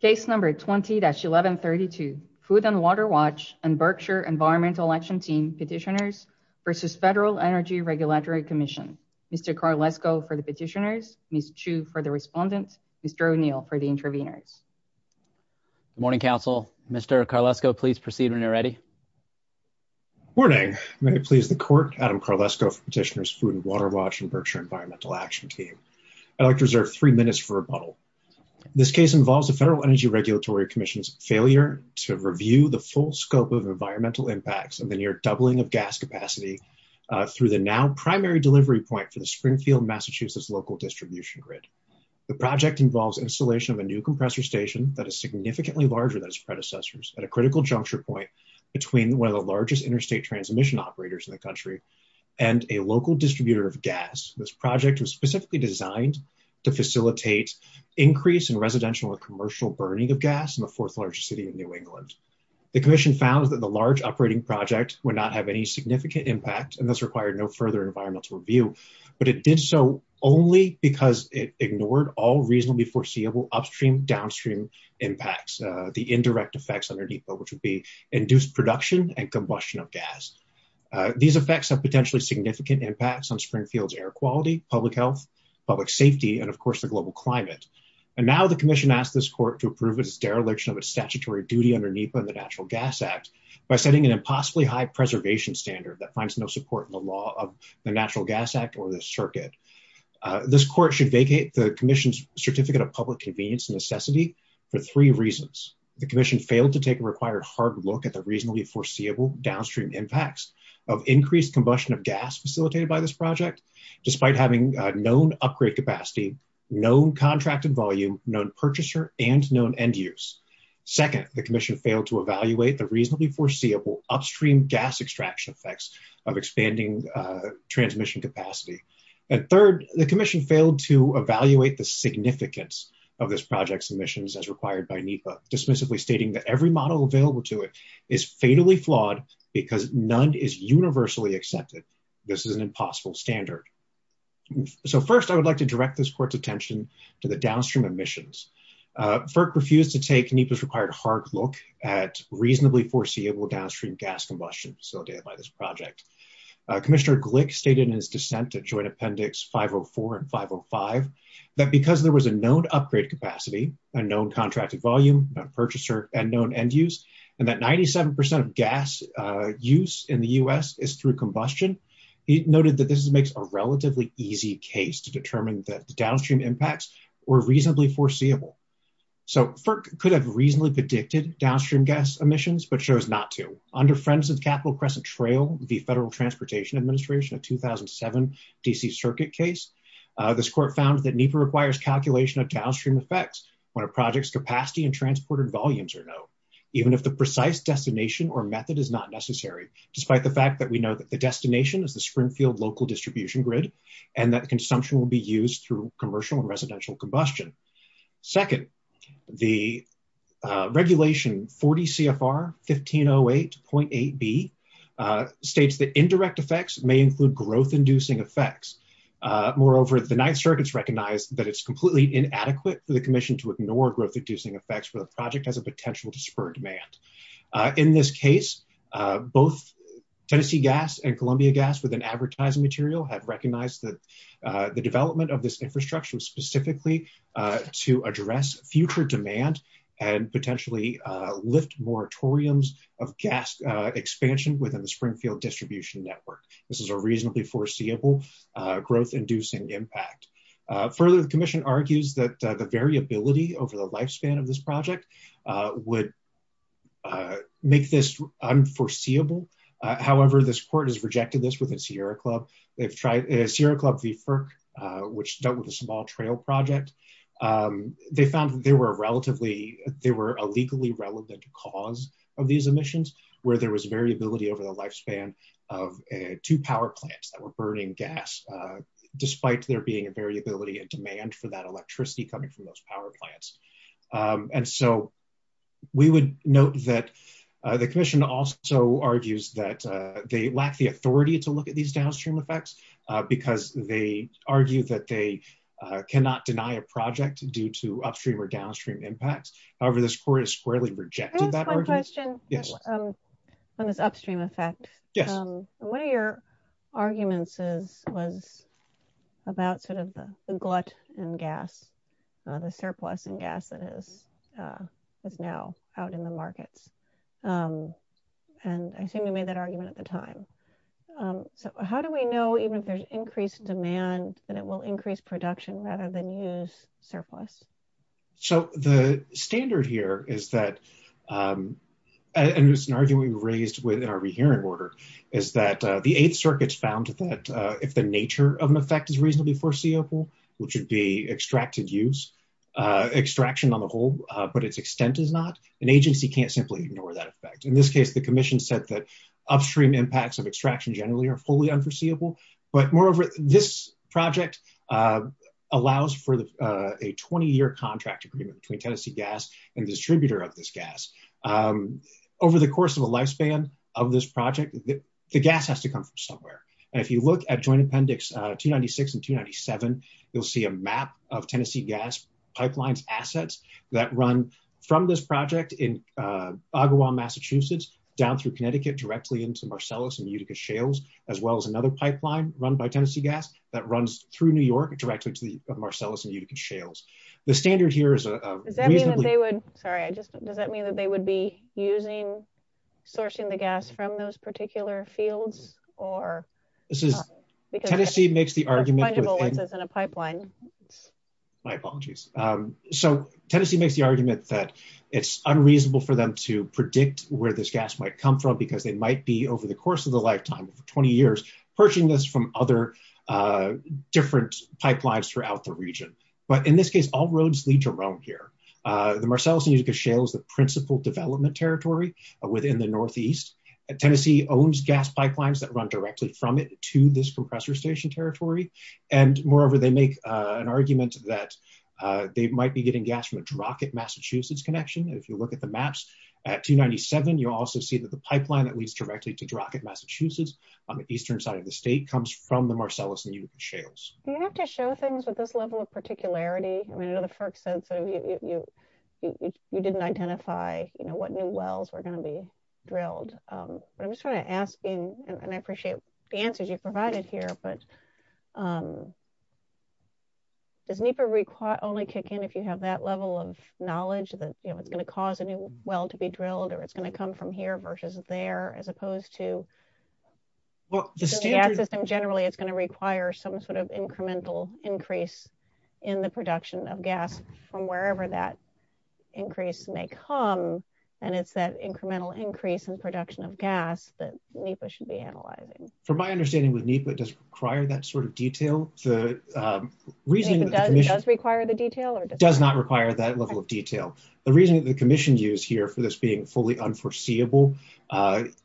Case number 20-1132. Food & Water Watch and Berkshire Environmental Action Team Petitioners v. Federal Energy Regulatory Commission. Mr. Carlesco for the petitioners, Ms. Chu for the respondents, Mr. O'Neill for the interveners. Good morning, Council. Mr. Carlesco, please proceed when you're ready. Morning. May it please the Court, Adam Carlesco for Petitioners, Food & Water Watch, and Berkshire Environmental Action Team. I'd like to reserve three minutes for rebuttal. This case involves the Federal Energy Regulatory Commission's failure to review the full scope of environmental impacts and the near doubling of gas capacity through the now primary delivery point for the Springfield, Massachusetts, local distribution grid. The project involves installation of a new compressor station that is significantly larger than its predecessors at a critical juncture point between one of the largest interstate transmission operators in the country and a local distributor of gas. This project was specifically designed to facilitate increase in residential and commercial burning of gas in the fourth largest city in New England. The Commission found that the large operating project would not have any significant impact and thus required no further environmental review, but it did so only because it ignored all reasonably foreseeable upstream-downstream impacts, the indirect effects underneath, which would be induced production and combustion of gas. These effects have potentially significant impacts on Springfield's air quality, public health, public safety, and of course, the global climate. And now the Commission asked this court to approve its dereliction of its statutory duty under NEPA and the Natural Gas Act by setting an impossibly high preservation standard that finds no support in the law of the Natural Gas Act or the circuit. This court should vacate the Commission's Certificate of Public Convenience necessity for three reasons. The Commission failed to take a required hard look at the reasonably foreseeable downstream impacts of increased combustion of gas facilitated by this project, despite having known upgrade capacity, known contracted volume, known purchaser, and known end use. Second, the Commission failed to evaluate the reasonably foreseeable upstream gas extraction effects of expanding transmission capacity. And third, the Commission failed to evaluate the significance of this project's emissions as required by NEPA, dismissively stating that every model available to it is fatally flawed because none is universally accepted. This is an impossible standard. So first, I would like to direct this court's attention to the downstream emissions. FERC refused to take NEPA's required hard look at reasonably foreseeable downstream gas combustion facilitated by this project. Commissioner Glick stated in his dissent to Joint Appendix 504 and 505, that because there was a known upgrade capacity, a known contracted volume, a purchaser, and known end use, and that 97% of gas use in the U.S. is through combustion, he noted that this makes a relatively easy case to determine that the downstream impacts were reasonably foreseeable. So FERC could have reasonably predicted downstream gas emissions, but chose not to. Under Friends of Capital Crescent Trail v. Federal Transportation Administration, a 2007 D.C. Circuit case, this court found that NEPA requires calculation of downstream effects when a project's capacity and transported volumes are known, even if the precise destination or Springfield local distribution grid, and that consumption will be used through commercial and residential combustion. Second, the Regulation 40 CFR 1508.8b states that indirect effects may include growth-inducing effects. Moreover, the Ninth Circuit's recognized that it's completely inadequate for the commission to ignore growth-inducing effects when a project has a potential to spur demand. In this case, both Tennessee Gas and Columbia Gas, with an advertising material, have recognized that the development of this infrastructure was specifically to address future demand and potentially lift moratoriums of gas expansion within the Springfield distribution network. This is a reasonably foreseeable growth-inducing impact. Further, the commission argues that the variability over the lifespan of this project would make this unforeseeable. However, this court has rejected this with the Sierra Club v. FERC, which dealt with a small trail project. They found there were a legally relevant cause of these emissions, where there was variability over the lifespan of two power plants that were burning gas, despite there being a variability in demand for that electricity coming from those power plants. And so, we would note that the commission also argues that they lack the authority to look at these downstream effects because they argue that they cannot deny a project due to upstream or downstream impacts. However, this court has squarely rejected that argument. Yes. On this upstream effect, one of your arguments was about sort of the glut in gas, the surplus in gas that is now out in the markets. And I assume you made that argument at the time. So, how do we know, even if there's increased demand, that it will increase production rather than use surplus? So, the standard here is that, and it's an argument we raised within our rehearing order, is that the Eighth Circuit found that if the nature of an effect is reasonably foreseeable, which would be extracted use, extraction on the whole, but its extent is not, an agency can't simply ignore that effect. In this case, the commission said that upstream impacts of extraction generally are fully unforeseeable. But moreover, this project allows for a 20-year contract agreement between Tennessee Gas and the distributor of this gas. Over the course of the lifespan of this project, the gas has to come from somewhere. And if you look at Joint Appendix 296 and 297, you'll see a map of Tennessee Gas pipelines assets that run from this project in Ogawa, Massachusetts, down through Connecticut, directly into Marcellus and New York, and directly to the Marcellus and Utica shales. The standard here is a reasonably- Does that mean that they would, sorry, I just, does that mean that they would be using, sourcing the gas from those particular fields, or- This is, Tennessee makes the argument- Or fungible ones, as in a pipeline. My apologies. So, Tennessee makes the argument that it's unreasonable for them to predict where this gas might come from, because they might be, over the course of the lifetime, for 20 years, purchasing this from other different pipelines throughout the region. But in this case, all roads lead to Rome here. The Marcellus and Utica shale is the principal development territory within the Northeast. Tennessee owns gas pipelines that run directly from it to this compressor station territory. And moreover, they make an argument that they might be getting gas from a Drockett, Massachusetts connection. If you look at the maps at 297, you'll also see that the pipeline that leads directly to Drockett, Massachusetts, on the eastern side of the state, comes from the Marcellus and Utica shales. Do you have to show things with this level of particularity? I mean, I know the FERC said, you didn't identify, you know, what new wells were going to be drilled. But I'm just trying to ask, and I appreciate the answers you've provided here, but does NEPA only kick in if you have that level of knowledge that, you know, it's going to cause a new well to be drilled, or it's going to come from here versus there, as opposed to the gas system generally, it's going to require some sort of incremental increase in the production of gas from wherever that increase may come. And it's that incremental increase in production of gas that NEPA should be analyzing. From my understanding with NEPA, it doesn't require that sort of detail. Does NEPA require the detail? It does not require that level of detail. The reason that the commission used here for this being fully unforeseeable,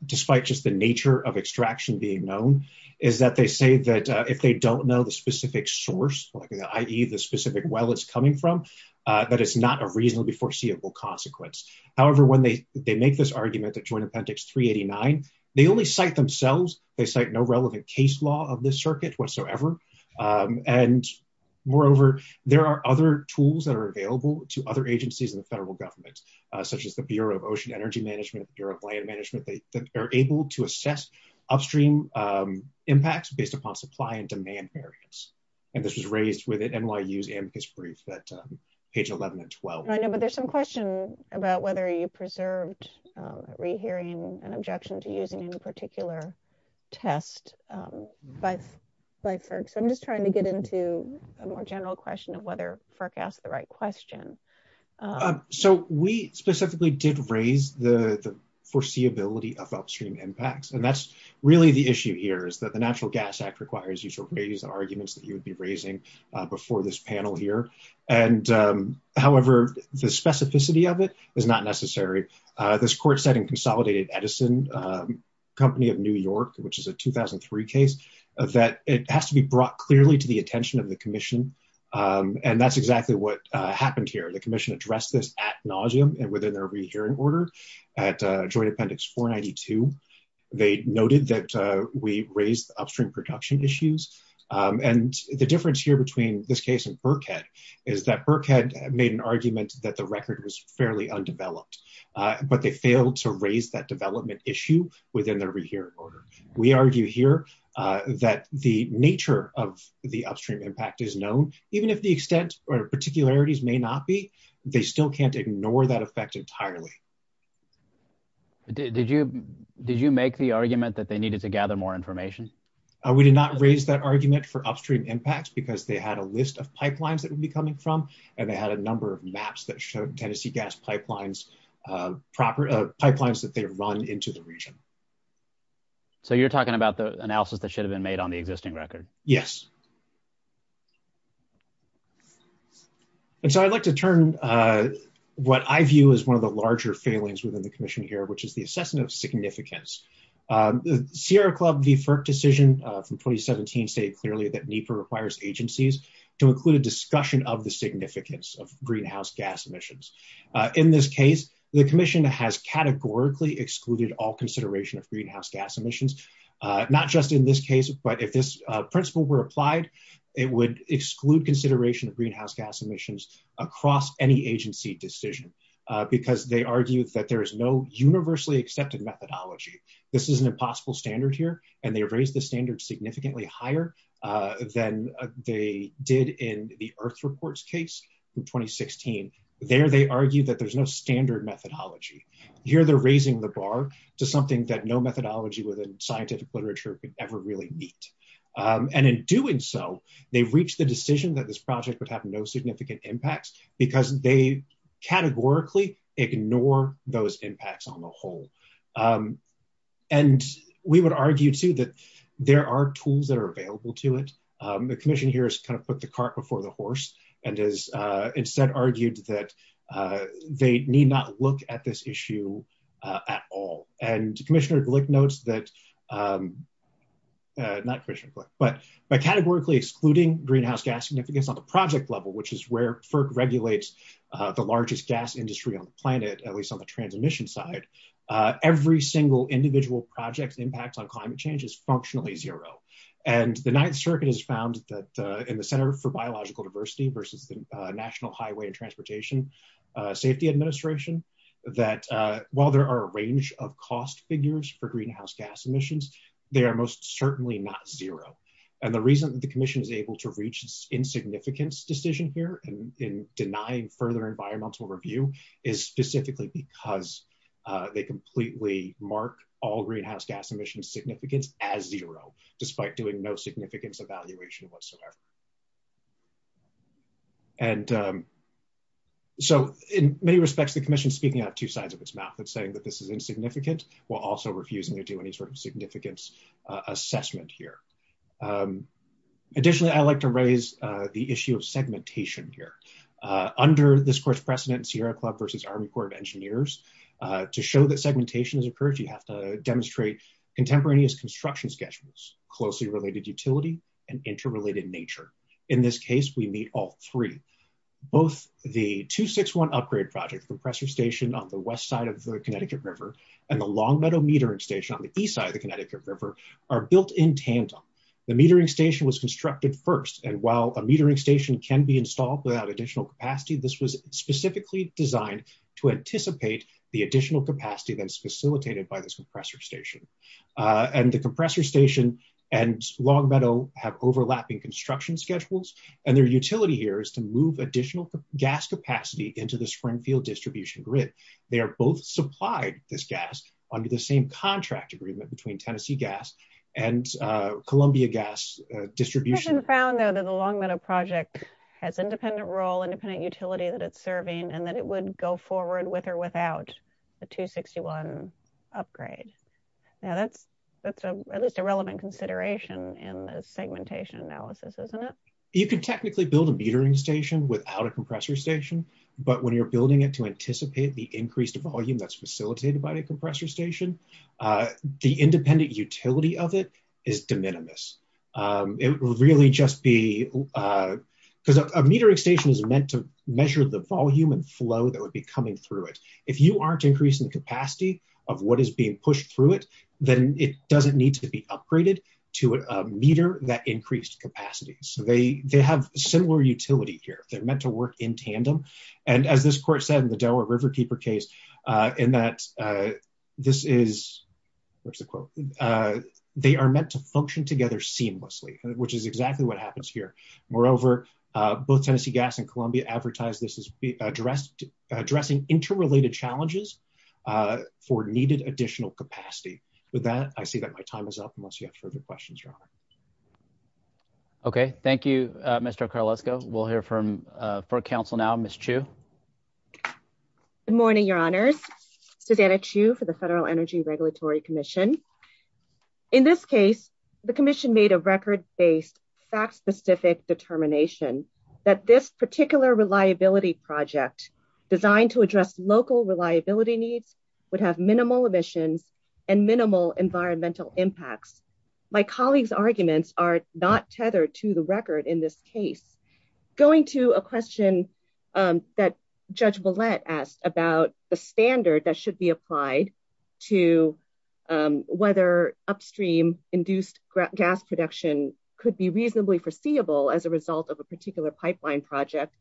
despite just the nature of extraction being known, is that they say that if they don't know the specific source, i.e. the specific well it's coming from, that it's not a reasonably foreseeable consequence. However, when they make this argument that Joint Appendix 389, they only cite themselves. They cite no relevant case law of this circuit whatsoever. And moreover, there are other tools that are available to other agencies in the federal government, such as the Bureau of Ocean Energy Management, the Bureau of Land Management, that are able to assess upstream impacts based upon supply and demand barriers. And this was raised with NYU's amicus brief at page 11 and 12. I know, but there's some question about whether you preserved rehearing an objection to using any particular test by FERC. So I'm just trying to get into a more general question of whether FERC asked the right question. So we specifically did raise the foreseeability of upstream impacts. And that's really the issue here is that the Natural Gas Act requires you to raise the arguments that you would be raising before this panel here. However, the specificity of it is not necessary. This court said in Consolidated Edison, a company of New York, which is a 2003 case, that it has to be brought clearly to the attention of the commission. And that's exactly what happened here. The commission addressed this ad nauseum and within their rehearing order at Joint Appendix 492. They noted that we raised upstream production issues. And the difference here between this case and Burkhead is that Burkhead made an argument that the record was fairly undeveloped, but they failed to raise that development issue within their rehearing order. We argue here that the nature of the upstream impact is known, even if the extent or particularities may not be, they still can't ignore that effect entirely. Did you make the argument that they needed to gather more information? We did not raise that argument for upstream impacts because they had a list of pipelines that would be coming from, and they had a number of maps that showed Tennessee gas pipelines, pipelines that they run into the region. So you're talking about the analysis that should have been made on the existing record? Yes. And so I'd like to turn what I view as one of the larger failings within the commission here, which is the assessment of significance. The Sierra Club v. FERC decision from 2017 state clearly that NEPA requires agencies to include a discussion of the significance of greenhouse gas emissions. In this case, the commission has categorically excluded all applied. It would exclude consideration of greenhouse gas emissions across any agency decision because they argued that there is no universally accepted methodology. This is an impossible standard here, and they raised the standard significantly higher than they did in the earth reports case in 2016. There, they argue that there's no standard methodology. Here, they're raising the bar to something that no methodology within scientific literature could ever really meet. And in doing so, they've reached the decision that this project would have no significant impacts because they categorically ignore those impacts on the whole. And we would argue too that there are tools that are available to it. The commission here has kind of put the cart before the horse and has instead argued that they need not look at this issue at all. And Commissioner Glick notes that, not Commissioner Glick, but by categorically excluding greenhouse gas significance on the project level, which is where FERC regulates the largest gas industry on the planet, at least on the transmission side, every single individual project impacts on climate change is functionally zero. And the Ninth Circuit has found that in the Center for Biological Diversity versus the National Highway and Transportation Safety Administration, that while there are a range of cost figures for greenhouse gas emissions, they are most certainly not zero. And the reason that the commission is able to reach this insignificance decision here in denying further environmental review is specifically because they completely mark all greenhouse gas emissions significance as zero, despite doing no commission speaking out two sides of its mouth and saying that this is insignificant, while also refusing to do any sort of significance assessment here. Additionally, I'd like to raise the issue of segmentation here. Under this court's precedent, Sierra Club versus Army Corps of Engineers, to show that segmentation has occurred, you have to demonstrate contemporaneous construction schedules, closely related utility, and interrelated nature. In this case, we meet all three. Both the 261 upgrade project compressor station on the west side of the Connecticut River and the Longmeadow metering station on the east side of the Connecticut River are built in tandem. The metering station was constructed first. And while a metering station can be installed without additional capacity, this was specifically designed to anticipate the additional capacity that's facilitated by this compressor station. And the compressor station and Longmeadow have overlapping construction schedules, and their utility here is to move additional gas capacity into the Springfield distribution grid. They are both supplied this gas under the same contract agreement between Tennessee Gas and Columbia Gas distribution. The Longmeadow project has independent role, independent utility that it's serving, and that it would go forward with or without the 261 upgrade. Now that's at least a relevant consideration in the segmentation analysis, isn't it? You could technically build a metering station without a compressor station, but when you're building it to anticipate the increased volume that's facilitated by a compressor station, the independent utility of it is de minimis. It would really just be, because a metering station is meant to measure the volume and flow that would be coming through it. If you aren't increasing the capacity of what is being pushed through it, then it doesn't need to be upgraded to a meter that increased capacity. So they have similar utility here. They're meant to work in tandem, and as this court said in the Delaware Riverkeeper case, in that this is, what's the quote, they are meant to function together seamlessly, which is exactly what happens here. Moreover, both Tennessee Gas and Columbia advertise this as addressing interrelated challenges for needed additional capacity. With that, I see that my time is up, unless you have further questions, Your Honor. Okay, thank you, Mr. Carlesco. We'll hear from, for counsel now, Ms. Chiu. Good morning, Your Honors. Susanna Chiu for the Federal Energy Regulatory Commission. In this case, the commission made a record-based, fact-specific determination that this particular reliability project, designed to address local reliability needs, would have minimal emissions and minimal environmental impacts. My colleagues' arguments are not tethered to the record in this case. Going to a question that Judge Bullett asked about the standard that should be applied to whether upstream-induced gas production could be reasonably foreseeable as a result of a particular pipeline project,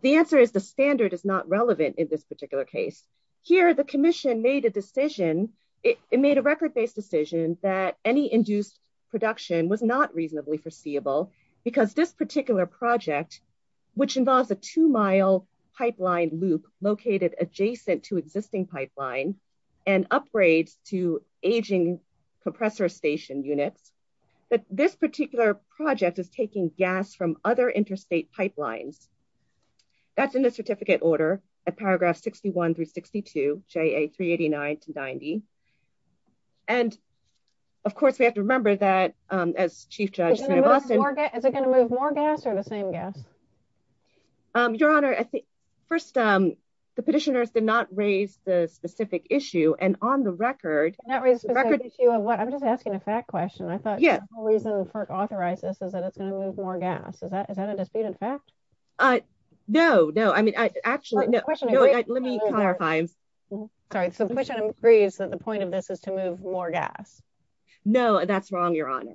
the answer is the standard is not relevant in this particular case. Here, the commission made a decision, it made a record-based decision, that any induced production was not reasonably foreseeable because this particular project, which involves a two-mile pipeline loop located adjacent to the pipeline, this particular project is taking gas from other interstate pipelines. That's in the certificate order at paragraphs 61 through 62, JA 389 to 90. And, of course, we have to remember that, as Chief Judge... Is it going to move more gas, or the same gas? Your Honor, first, the petitioners did not raise the specific issue, and on the record... Not raise the specific issue of what? I'm just asking a fact question, I thought the reason FERC authorized this is that it's going to move more gas. Is that a disputed fact? No, no. I mean, actually... Let me clarify. Sorry, so the question agrees that the point of this is to move more gas. No, that's wrong, Your Honor.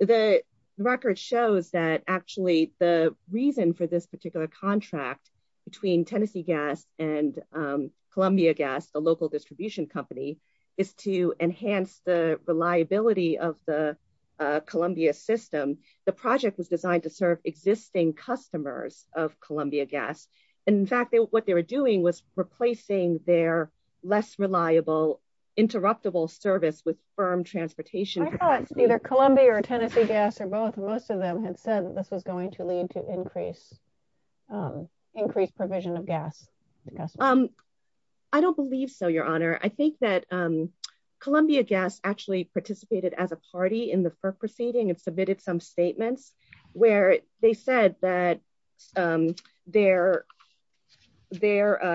The record shows that actually the reason for this particular contract between Tennessee Gas and Columbia Gas, the local of the Columbia system, the project was designed to serve existing customers of Columbia Gas. And, in fact, what they were doing was replacing their less reliable, interruptible service with firm transportation. I thought either Columbia or Tennessee Gas or both, most of them had said that this was going to lead to increased provision of gas. I don't believe so, Your Honor. I think that Columbia Gas actually participated as a party in the FERC proceeding and submitted some statements where they said that their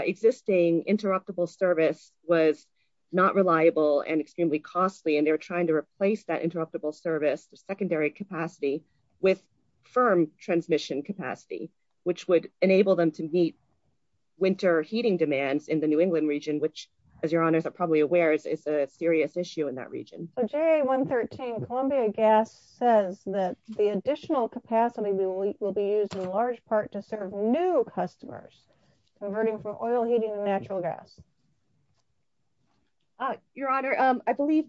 existing interruptible service was not reliable and extremely costly, and they were trying to replace that interruptible service, the secondary capacity with firm transmission capacity, which would enable them to meet winter heating demands in New England region, which, as Your Honors are probably aware, is a serious issue in that region. JA113, Columbia Gas says that the additional capacity will be used in large part to serve new customers converting from oil heating to natural gas. Your Honor, I believe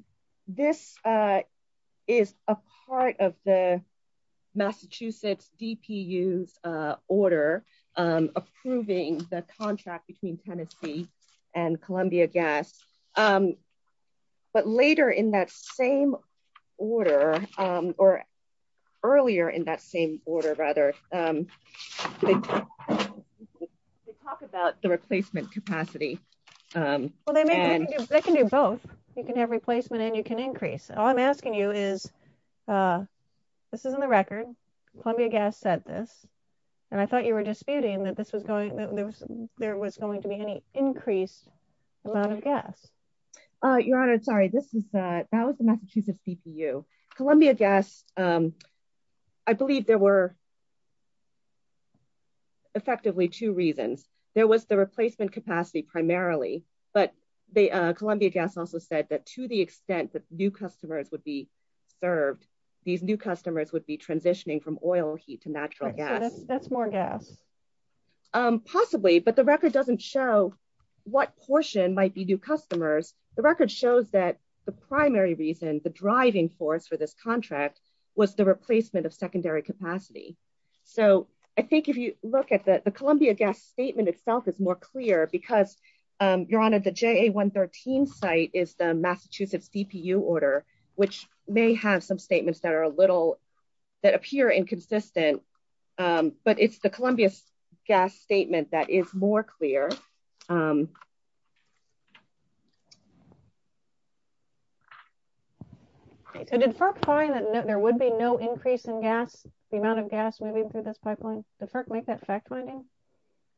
this is a part of the Massachusetts DPU's order approving the contract between Tennessee and Columbia Gas, but later in that same order, or earlier in that same order, rather, they talk about the replacement capacity. Well, they can do both. You can have replacement and you can increase. All I'm asking you is, this is in the record, Columbia Gas said this, and I thought you were disputing that there was going to be any increased amount of gas. Your Honor, sorry, that was the Massachusetts DPU. Columbia Gas, I believe there were effectively two reasons. There was the replacement capacity primarily, but Columbia Gas also said that to the extent that new customers would be served, these new customers would be more gas. Possibly, but the record doesn't show what portion might be new customers. The record shows that the primary reason, the driving force for this contract, was the replacement of secondary capacity. So I think if you look at the Columbia Gas statement itself, it's more clear because Your Honor, the JA113 site is the Massachusetts DPU order, which may have some statements that that appear inconsistent, but it's the Columbia Gas statement that is more clear. So did FERC find that there would be no increase in gas, the amount of gas moving through this pipeline? Did FERC make that fact finding?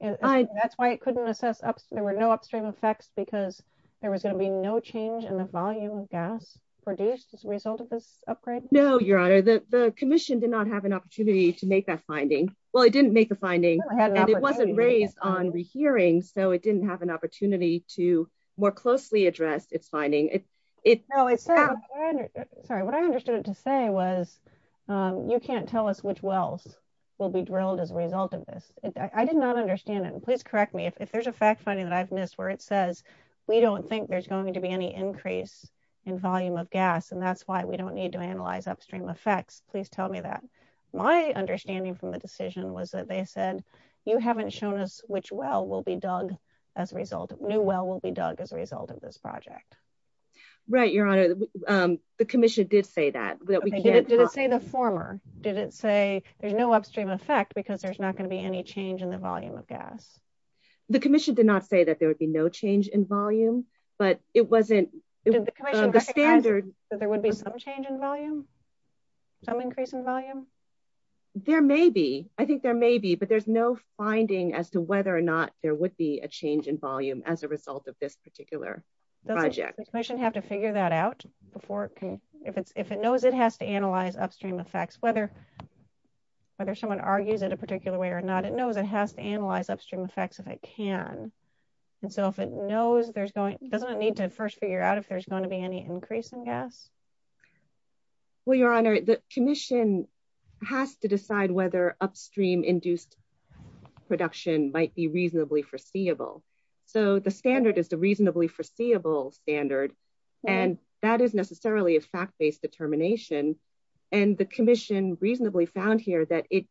That's why it couldn't assess, there were no upstream effects because there was going to be no change in the volume of gas produced as a result of this The commission did not have an opportunity to make that finding. Well, it didn't make the finding, and it wasn't raised on rehearing, so it didn't have an opportunity to more closely address its finding. What I understood it to say was, you can't tell us which wells will be drilled as a result of this. I did not understand it, and please correct me if there's a fact finding that I've missed where it says we don't think there's going to be any increase in volume of gas, and that's why we don't need to analyze upstream effects. Please tell me that. My understanding from the decision was that they said, you haven't shown us which well will be dug as a result, new well will be dug as a result of this project. Right, your honor, the commission did say that. Did it say the former? Did it say there's no upstream effect because there's not going to be any change in the volume of gas? The commission did not say that there would be no change in volume, but it wasn't. Did the commission recognize that there would be some change in volume, some increase in volume? There may be, I think there may be, but there's no finding as to whether or not there would be a change in volume as a result of this particular project. Does the commission have to figure that out before it can, if it knows it has to analyze upstream effects, whether someone argues it a particular way or not, it knows it has to analyze upstream effects if it can. And so if it knows there's going, doesn't it need to first figure out if there's going to be any increase in gas? Well, your honor, the commission has to decide whether upstream induced production might be reasonably foreseeable. So the standard is the reasonably foreseeable standard, and that is necessarily a fact-based determination. And the commission reasonably found here that it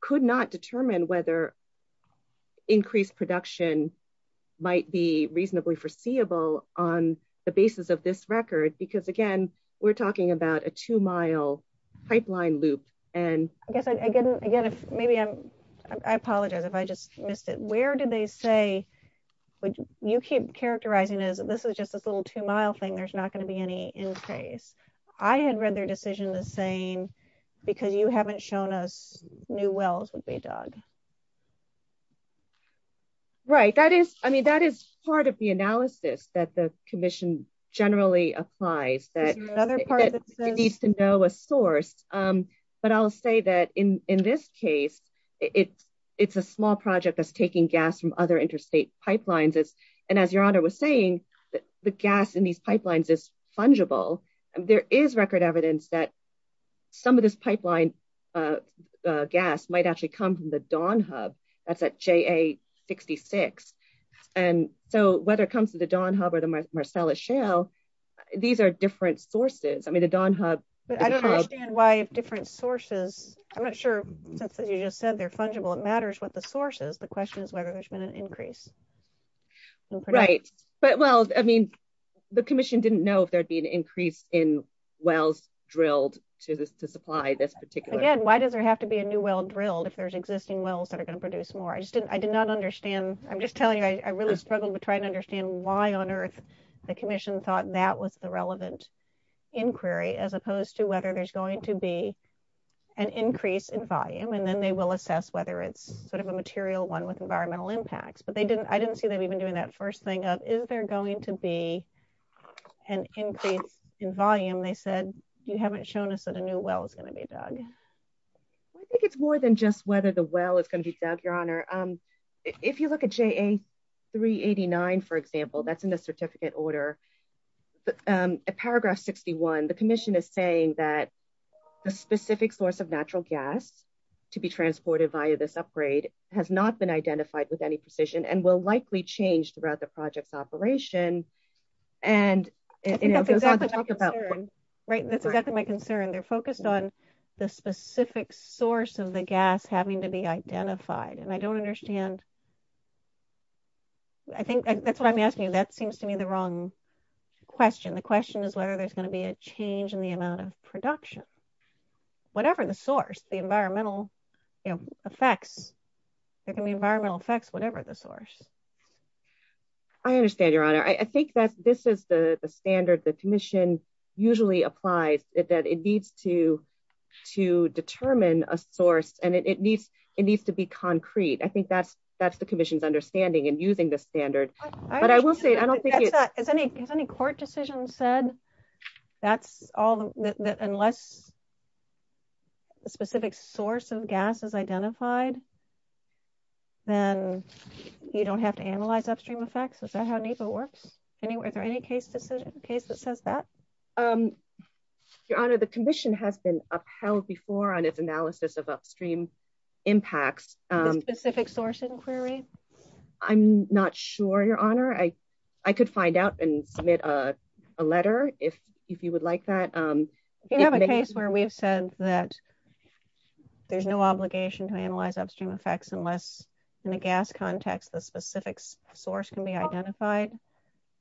could not determine whether increased production might be reasonably foreseeable on the basis of this record, because again, we're talking about a two-mile pipeline loop. And I guess I get it again, if maybe I'm, I apologize if I just missed it. Where did they say, would you keep characterizing as this is just this little two-mile thing, there's not going to be any increase? I had read their decision the same, because you haven't shown us new wells would be dug. Right. That is, I mean, that is part of the analysis that the commission generally applies, that it needs to know a source. But I'll say that in this case, it's a small project that's taking gas from other interstate pipelines. And as your honor was saying, the gas in these pipelines is fungible. There is record evidence that some of this pipeline gas might actually come from the Dawn Hub, that's at JA-66. And so whether it comes to the Dawn Hub or the Marcellus Shale, these are different sources. I mean, the Dawn Hub- But I don't understand why different sources, I'm not sure, since you just said they're fungible, it matters what the source is. The question is whether there's been an increase. Right. But well, I mean, the commission didn't know if there'd be an increase in wells drilled to supply this particular- Again, why does there have to be a new well drilled if there's existing wells that are going to produce more? I just didn't, I did not understand. I'm just telling you, I really struggled to try and understand why on earth the commission thought that was the relevant inquiry, as opposed to whether there's going to be an increase in volume, and then they will assess whether it's sort of a material one with environmental impacts. But I didn't see them even doing that first thing of, is there going to be an increase in volume? They said, you haven't shown us that a new well is going to be dug. I think it's more than just whether the well is going to be dug, Your Honor. If you look at JA-389, for example, that's in the certificate order. At paragraph 61, the commission is saying that the specific source of natural gas to be transported via this upgrade has not been identified with any precision, and will likely change throughout the project's operation. Right, that's exactly my concern. They're focused on the specific source of the gas having to be identified, and I don't understand. I think that's what I'm asking you. That seems to me the wrong question. The question is whether there's going to be a change in the amount of you know, effects. There can be environmental effects, whatever the source. I understand, Your Honor. I think that this is the standard the commission usually applies, that it needs to determine a source, and it needs to be concrete. I think that's the commission's understanding in using this standard. But I will say, I don't think it's- That's all the- unless a specific source of gas is identified, then you don't have to analyze upstream effects? Is that how NEPA works? Anyway, is there any case that says that? Your Honor, the commission has been upheld before on its analysis of upstream impacts. The specific source inquiry? I'm not sure, Your Honor. I could find out and submit a letter if you would like that. If you have a case where we've said that there's no obligation to analyze upstream effects unless in a gas context the specific source can be identified,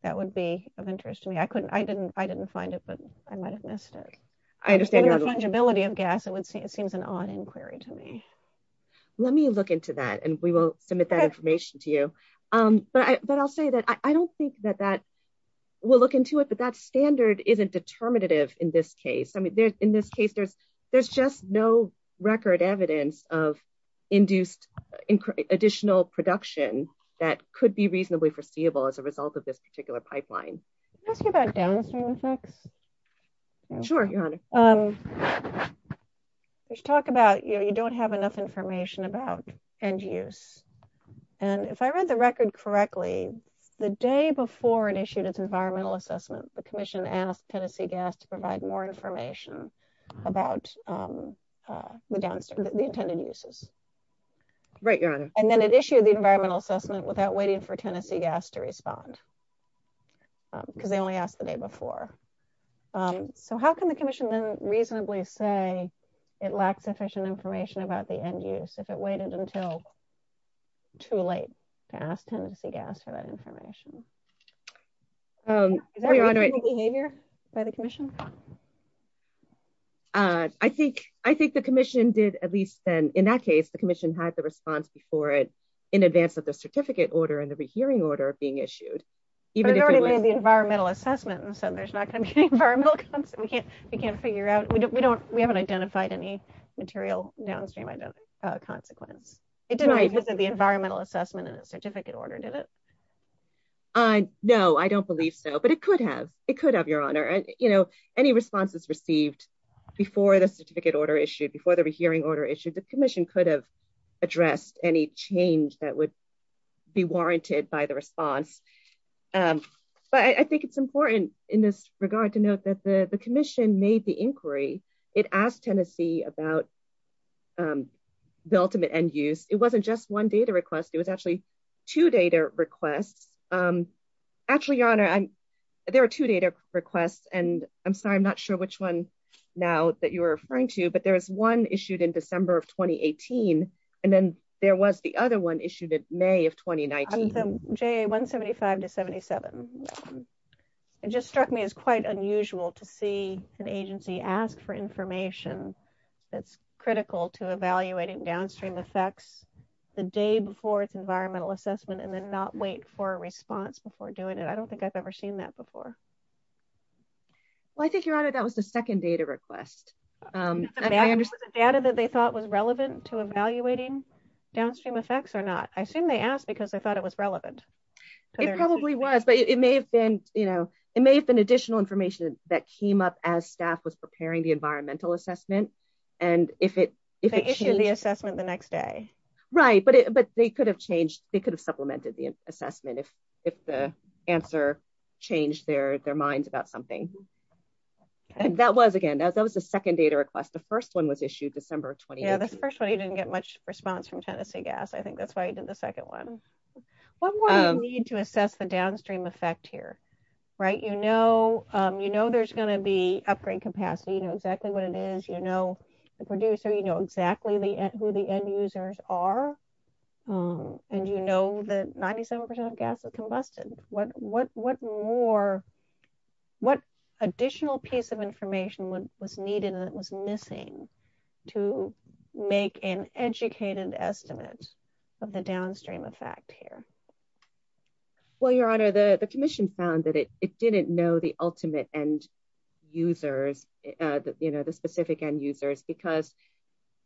that would be of interest to me. I couldn't- I didn't find it, but I might have missed it. I understand- Given the fungibility of gas, it would seem- it seems an odd inquiry to me. Let me look into that, and we will submit that information to you. But I'll say that I don't think that that- we'll look into it, but that standard isn't determinative in this case. I mean, in this case, there's just no record evidence of induced additional production that could be reasonably foreseeable as a result of this particular pipeline. Can I ask you about downstream effects? Sure, Your Honor. We should talk about, you know, you don't have enough information about end use. And if I read the record correctly, the day before it issued its environmental assessment, the commission asked Tennessee Gas to provide more information about the downstream- the intended uses. Right, Your Honor. And then it issued the environmental assessment without waiting for Tennessee Gas to respond, because they only asked the day before. So how can the commission then reasonably say it lacks sufficient information about the end use if it waited until too late to ask Tennessee Gas for that information? Is that behavior by the commission? I think- I think the commission did at least then- in that case, the commission had the response before it, in advance of the certificate order and the rehearing order being issued. Even if it was- But it already made the environmental assessment, and so there's not going to be an environmental consequence. We can't- we can't figure out- we don't- we haven't identified any material downstream consequence. It didn't revisit the environmental assessment in the certificate order, did it? No, I don't believe so. But it could have. It could have, Your Honor. And, you know, any responses received before the certificate order issued, before the rehearing order issued, the commission could have addressed any change that would be warranted by the response. But I think it's important in this regard to note that the commission made the inquiry. It asked Tennessee about the ultimate end use. It wasn't just one data request. It was actually two data requests. Actually, Your Honor, I'm- there are two data requests, and I'm sorry, I'm not sure which one now that you're referring to, but there is one issued in December of 2018, and then there was the other one issued in May of 2019. JA-175-77. It just struck me as quite unusual to see an agency ask for information that's critical to evaluating downstream effects the day before its environmental assessment, and then not wait for a response before doing it. I don't think I've ever seen that before. Well, I think, Your Honor, that was the second data request. Data that they thought was relevant to evaluating downstream effects or not? I assume they asked because they thought it was relevant. It probably was, but it may have been, you know, it may have been additional information that came up as staff was preparing the environmental assessment, and if it- They issued the assessment the next day. Right, but they could have changed- they could have supplemented the assessment if the answer changed their minds about something. And that was, again, that was the second data request. The first one was issued December of 2018. Yeah, the first one, you didn't get much response from Tennessee Gas. I think that's why you did the second one. What more do you need to assess the downstream effect here, right? You know there's going to be upgrade capacity, you know exactly what it is, you know the producer, you know exactly who the end users are, and you know that 97% of gas is combusted. What additional piece of information was needed and was missing to make an educated estimate of the downstream effect here? Well, Your Honor, the Commission found that it didn't know the ultimate end users, you know, the specific end users, because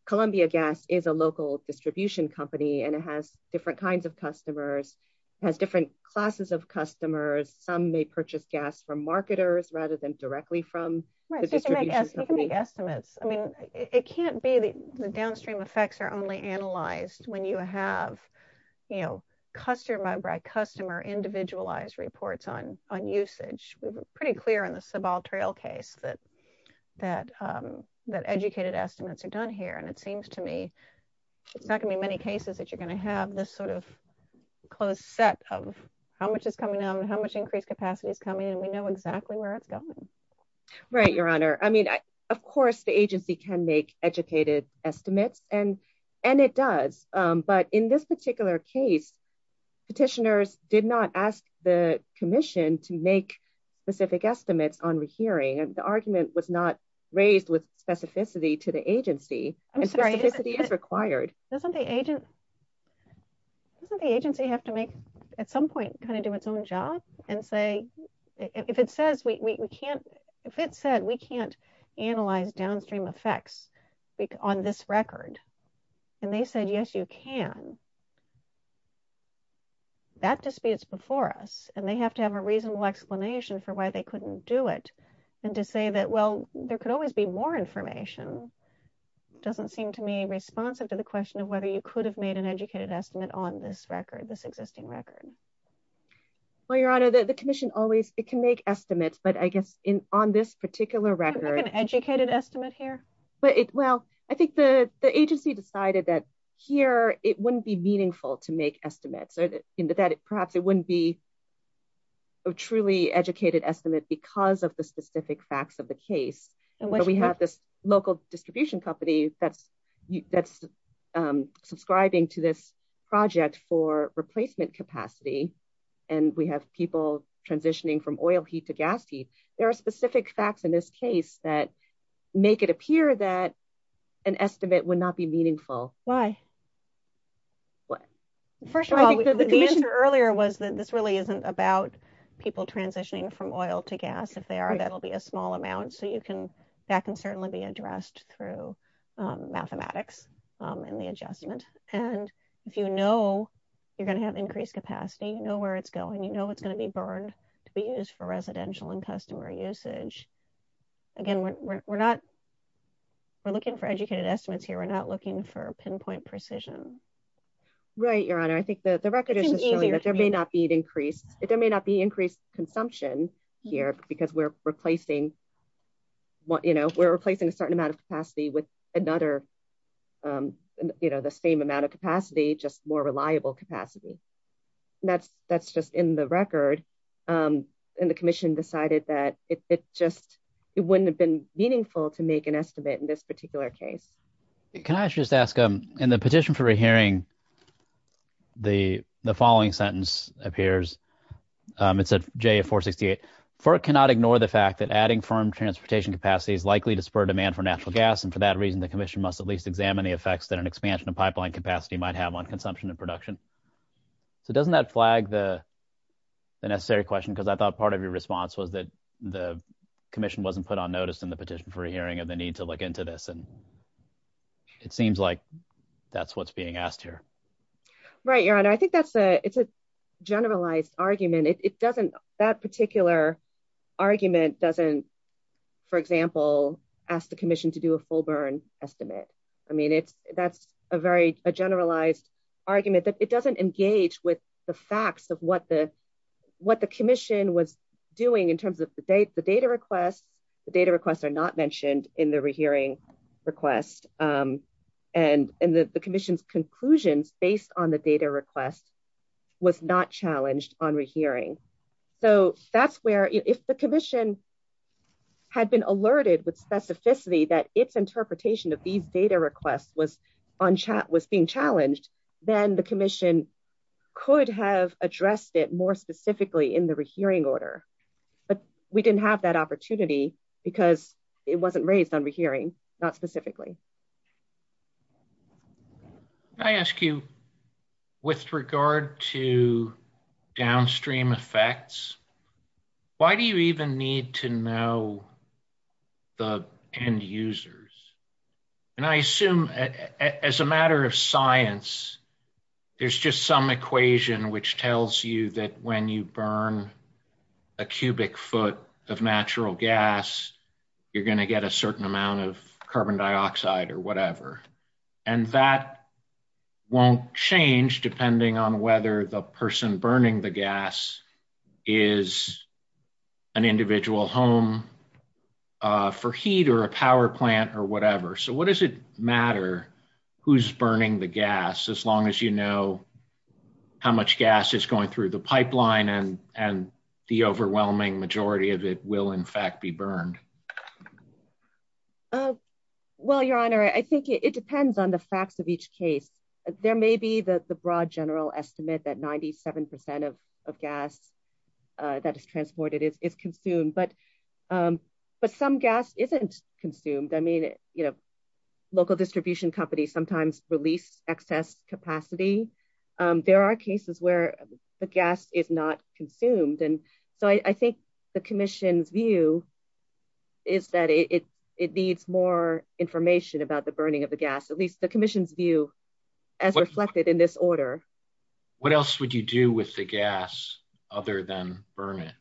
Columbia Gas is a local distribution company, and it has different kinds of customers, has different classes of customers. Some may purchase gas from marketers rather than directly from the distribution company. You can make estimates. I mean, it can't be the downstream effects are only analyzed when you have, you know, customer-by-customer, individualized reports on usage. We were pretty clear in the Sebald Trail case that educated estimates are done here, and it seems to me it's not going to be many cases that you're going to have this sort of closed set of how much is coming, and we know exactly where it's going. Right, Your Honor. I mean, of course the agency can make educated estimates, and it does, but in this particular case, petitioners did not ask the Commission to make specific estimates on rehearing, and the argument was not raised with specificity to the agency, and specificity is required. Doesn't the agency have to make, at some point, kind of do its own job and say, if it says we can't, if it said we can't analyze downstream effects on this record, and they said yes, you can, that disputes before us, and they have to have a reasonable explanation for why they couldn't do it, and to say that, well, there could always be more information doesn't seem to me responsive to the question of whether you could have made an educated estimate on this record, Well, Your Honor, the Commission always, it can make estimates, but I guess in on this particular record, an educated estimate here, but it, well, I think the agency decided that here, it wouldn't be meaningful to make estimates, or that perhaps it wouldn't be a truly educated estimate because of the specific facts of the case, and we have this local distribution company that's subscribing to this project for replacement capacity, and we have people transitioning from oil heat to gas heat. There are specific facts in this case that make it appear that an estimate would not be meaningful. Why? First of all, the answer earlier was that this really isn't about people transitioning from oil to gas. If they are, that'll be a small amount, so you can, that can certainly be addressed through mathematics and the adjustment, and if you know you're going to have increased capacity, you know where it's going, you know it's going to be burned to be used for residential and customer usage. Again, we're not, we're looking for educated estimates here. We're not looking for pinpoint precision. Right, Your Honor, I think that the record is just showing that there may not be an increased, there may not be increased consumption here because we're replacing what, you know, we're replacing a certain amount of capacity with another, you know, the same amount of capacity, just more reliable capacity. That's just in the record, and the commission decided that it just, it wouldn't have been meaningful to make an estimate in this particular case. Can I just ask, in the petition for a hearing, the following sentence appears. It said JF-468, FERC cannot ignore the fact that adding firm transportation capacity is likely to spur demand for natural gas, and for that reason the commission must at least examine the effects that an expansion of pipeline capacity might have on consumption and production. So doesn't that flag the necessary question, because I thought part of your response was that the commission wasn't put on notice in the petition for a hearing of the need to look into this, and it seems like that's what's being asked here. Right, Your Honor, I think that's a, it's a generalized argument. It doesn't, that particular argument doesn't, for example, ask the commission to do a full burn estimate. I mean it's, that's a very, a generalized argument that it doesn't engage with the facts of what the, what the commission was doing in terms of the data requests. The data requests are not mentioned in the rehearing request, and the commission's conclusions based on the data request was not challenged on rehearing. So that's where, if the commission had been alerted with specificity that its interpretation of these data requests was on chat, was being challenged, then the commission could have addressed it more specifically in the rehearing order, but we didn't have that opportunity because it wasn't raised on rehearing, not specifically. Can I ask you, with regard to downstream effects, why do you even need to know the end users? And I assume as a matter of science, there's just some equation which tells you that when you burn a cubic foot of natural gas, you're going to get a certain amount of carbon dioxide or whatever, and that won't change depending on whether the person burning the gas is an individual home for heat or a power plant or whatever. So what does it matter who's burning the gas as long as you know how much gas is going through the pipeline and the overwhelming majority of it will in fact be burned? Well, your honor, I think it depends on the facts of each case. There may be the broad general estimate that 97 percent of gas that is transported is consumed, but some gas isn't consumed. I mean, local distribution companies sometimes release excess capacity. There are cases where the gas is not consumed, and so I think the commission's view is that it needs more information about the burning of the gas, at least the commission's view, as reflected in this order. What else would you do with the gas other than burn it?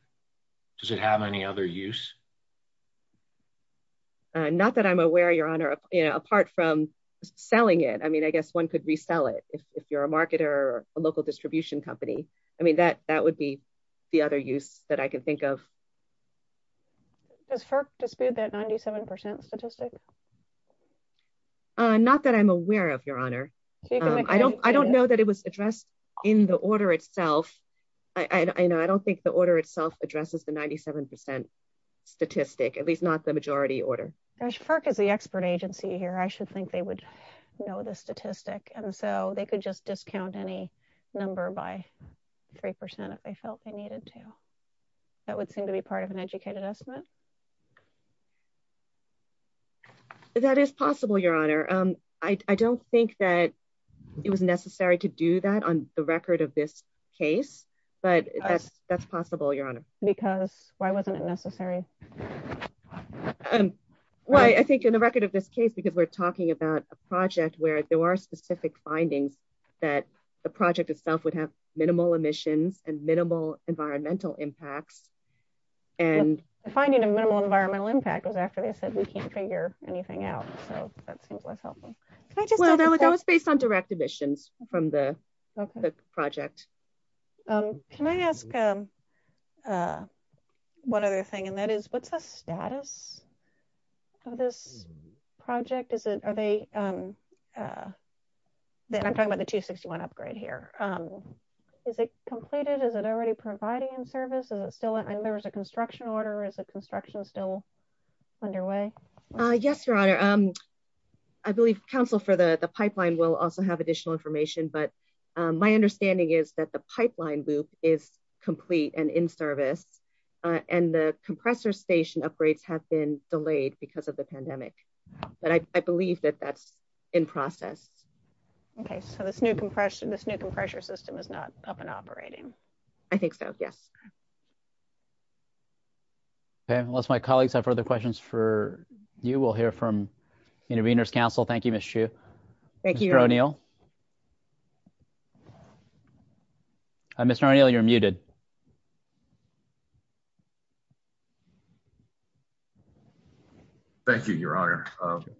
Does it have any other use? Not that I'm aware, your honor, apart from selling it. I mean, I guess one could resell it if you're a marketer or a local distribution company. I mean, that would be the other use that I can think of. Does FERC dispute that 97 percent statistic? Not that I'm aware of, your honor. I don't know that it was addressed in the order itself. I don't think the order itself addresses the 97 percent statistic, at least not the know the statistic, and so they could just discount any number by three percent if they felt they needed to. That would seem to be part of an educated estimate. That is possible, your honor. I don't think that it was necessary to do that on the record of this case, but that's possible, your honor. Because why wasn't it necessary? Well, I think on the record of this case, because we're talking about a project where there are specific findings that the project itself would have minimal emissions and minimal environmental impacts. The finding of minimal environmental impact was after they said we can't figure anything out, so that seems less helpful. Well, that was based on direct emissions from the project. Can I ask one other thing, and that is what's the status of this project? I'm talking about the 261 upgrade here. Is it completed? Is it already providing in service? I know there was a construction order. Is the construction still underway? Yes, your honor. I believe council for the pipeline will also have additional information, but my understanding is that the pipeline loop is complete and in service, and the compressor station upgrades have been delayed because of the pandemic, but I believe that that's in process. Okay, so this new compression system is not up and operating. I think so, yes. Unless my colleagues have further questions for you, we'll hear from intervenors. Council, thank you, Ms. Chu. Thank you, Mr. O'Neill. Mr. O'Neill, you're muted. Thank you, your honor.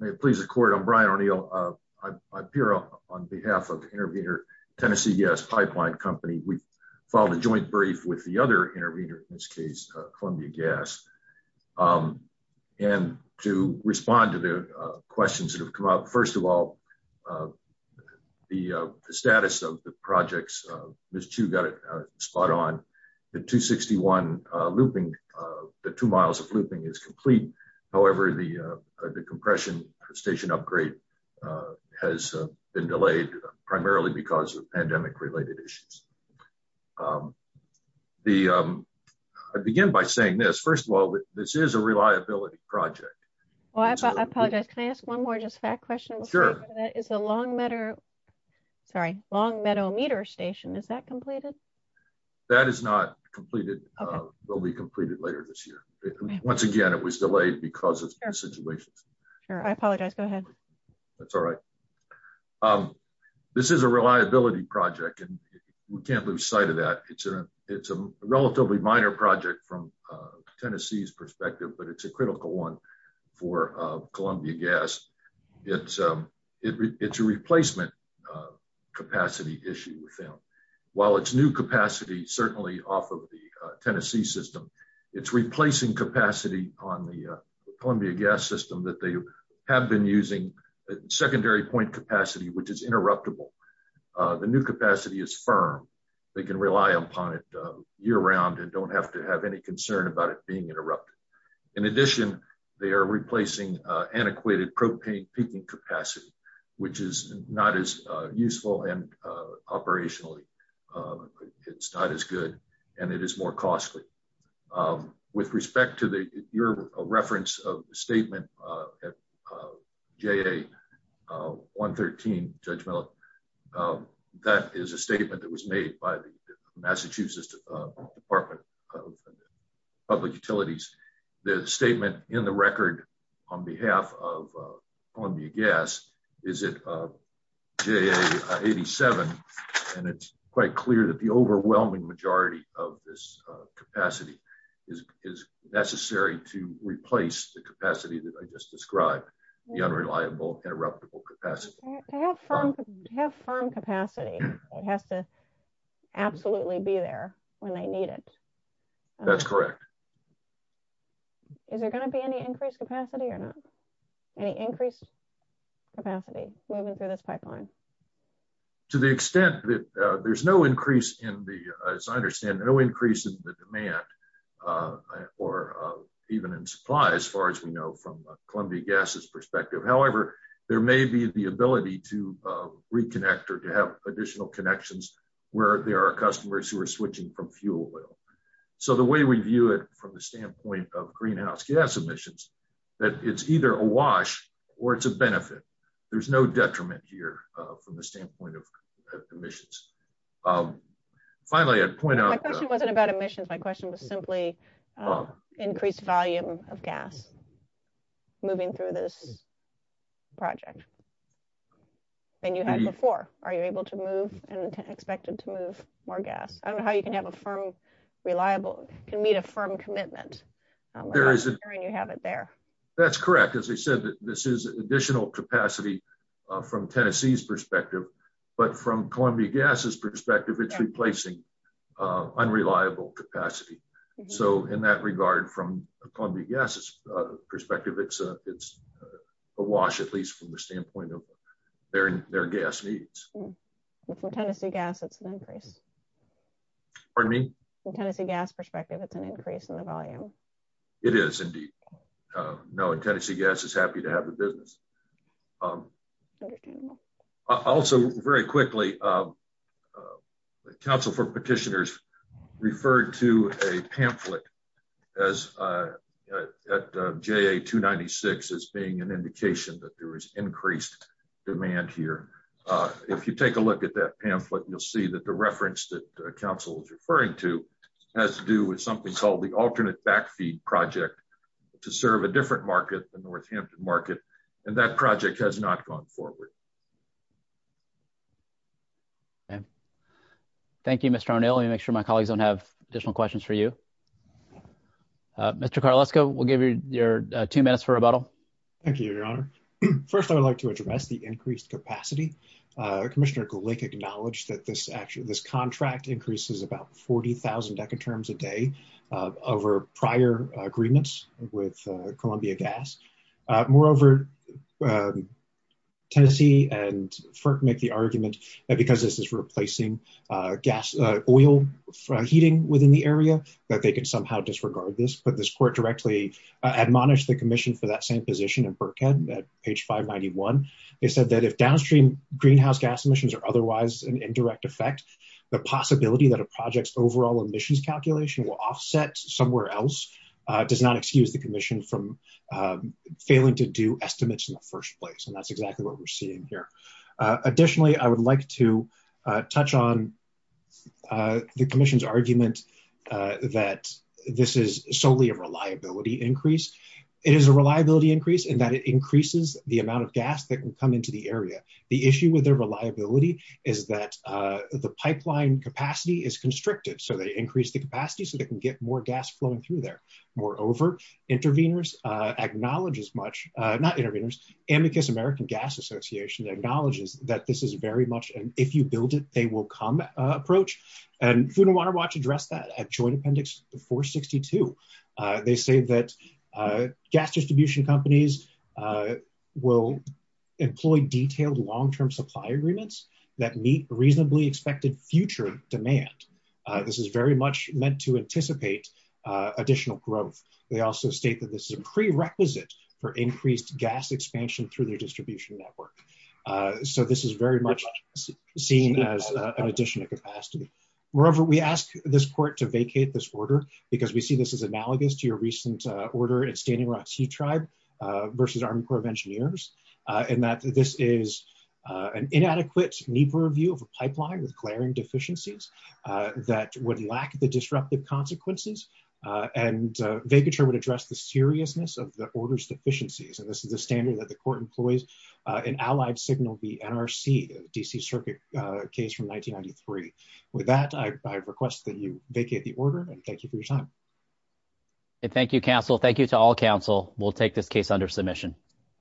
May it please the court, I'm Brian O'Neill. I appear on behalf of the intervenor Tennessee Gas Pipeline Company. We've filed a joint brief with the other intervenor, Columbia Gas, and to respond to the questions that have come up. First of all, the status of the projects, Ms. Chu got it spot on. The 261 looping, the two miles of looping is complete. However, the compression station upgrade has been delayed primarily because of pandemic-related issues. I begin by saying this. First of all, this is a reliability project. I apologize. Can I ask one more just fact question? Sure. Is the Longmeadow meter station, is that completed? That is not completed. It will be completed later this year. Once again, it was delayed because of the situation. Sure, I apologize. Go ahead. That's all right. This is a reliability project and we can't lose sight of that. It's a relatively minor project from Tennessee's perspective, but it's a critical one for Columbia Gas. It's a replacement capacity issue with them. While it's new capacity, certainly off of the Tennessee system, it's replacing capacity on the Columbia Gas system that they have been using secondary point capacity, which is interruptible. The new capacity is firm. They can rely upon it year-round and don't have to have any concern about it being interrupted. In addition, they are replacing antiquated propane peaking capacity, which is not as useful and operationally, it's not as good, and it is more costly. With respect to your reference of the statement at JA113, Judge Mellick, that is a statement that was made by the Massachusetts Department of Public Utilities. The statement in the record on behalf of Columbia Gas is at JA87. It's quite clear that the overwhelming majority of this capacity is necessary to replace the capacity that I just described, the unreliable interruptible capacity. They have firm capacity. It has to absolutely be there when they need it. That's correct. Is there going to be any increased capacity or not? Any increased capacity moving through this to the extent that there's no increase in the, as I understand, no increase in the demand or even in supply as far as we know from Columbia Gas's perspective. However, there may be the ability to reconnect or to have additional connections where there are customers who are switching from fuel oil. The way we view it from the standpoint of greenhouse gas emissions, that it's either a wash or it's a benefit. There's no detriment here from the standpoint of emissions. Finally, I'd point out- My question wasn't about emissions. My question was simply increased volume of gas moving through this project than you had before. Are you able to move and expected to move more gas? I don't know how you can have a firm, reliable, can meet a firm commitment. There isn't- And you have it there. That's correct. As I said, this is additional capacity from Tennessee's perspective, but from Columbia Gas's perspective, it's replacing unreliable capacity. In that regard, from Columbia Gas's perspective, it's a wash, at least from the standpoint of their gas needs. From Tennessee Gas, it's an increase. Pardon me? From Tennessee Gas's perspective, it's an increase in the volume. It is, indeed. Tennessee Gas is happy to have the business. Also, very quickly, the Council for Petitioners referred to a pamphlet at JA-296 as being an indication that there was increased demand here. If you take a look at that pamphlet, you'll see that the reference that the Council is referring to has to do with something called the Alternate Backfeed Project to serve a different market, the Northampton market, and that project has not gone forward. Thank you, Mr. O'Neill. Let me make sure my colleagues don't have additional questions for you. Mr. Karlesko, we'll give you your two minutes for rebuttal. Thank you, Your Honor. First, I would like to address the increased capacity. Commissioner Glick acknowledged that this contract increases about 40,000 decaturms a day over prior agreements with Columbia Gas. Moreover, Tennessee and FERC make the argument that because this is replacing oil heating within the area that they could somehow disregard this, but this court directly admonished the commission for that same position in Burkhead at page 591. It said that if downstream greenhouse gas emissions are otherwise an indirect effect, the possibility that a project's overall emissions calculation will offset somewhere else does not excuse the commission from failing to do estimates in the first place, and that's exactly what we're seeing here. Additionally, I would like to touch on the commission's argument that this is solely a reliability increase. It is a reliability increase in that it increases the amount of area. The issue with their reliability is that the pipeline capacity is constricted, so they increase the capacity so they can get more gas flowing through there. Moreover, Amicus American Gas Association acknowledges that this is very much an if-you-build-it-they-will-come approach, and Food and Water Watch addressed that at Joint Appendix 462. They say that gas distribution companies will employ detailed long-term supply agreements that meet reasonably expected future demand. This is very much meant to anticipate additional growth. They also state that this is a prerequisite for increased gas expansion through their distribution network, so this is very much seen as an additional capacity. Moreover, we ask this because we see this as analogous to your recent order at Standing Rock Sea Tribe versus Army Corps of Engineers, and that this is an inadequate, neeper view of a pipeline with glaring deficiencies that would lack the disruptive consequences, and vacature would address the seriousness of the order's deficiencies. This is a standard that the court employs. An allied signal would be NRC, DC Circuit case from 1993. With that, I request that you vacate the order, and thank you for your time. Thank you, counsel. Thank you to all counsel. We'll take this case under submission.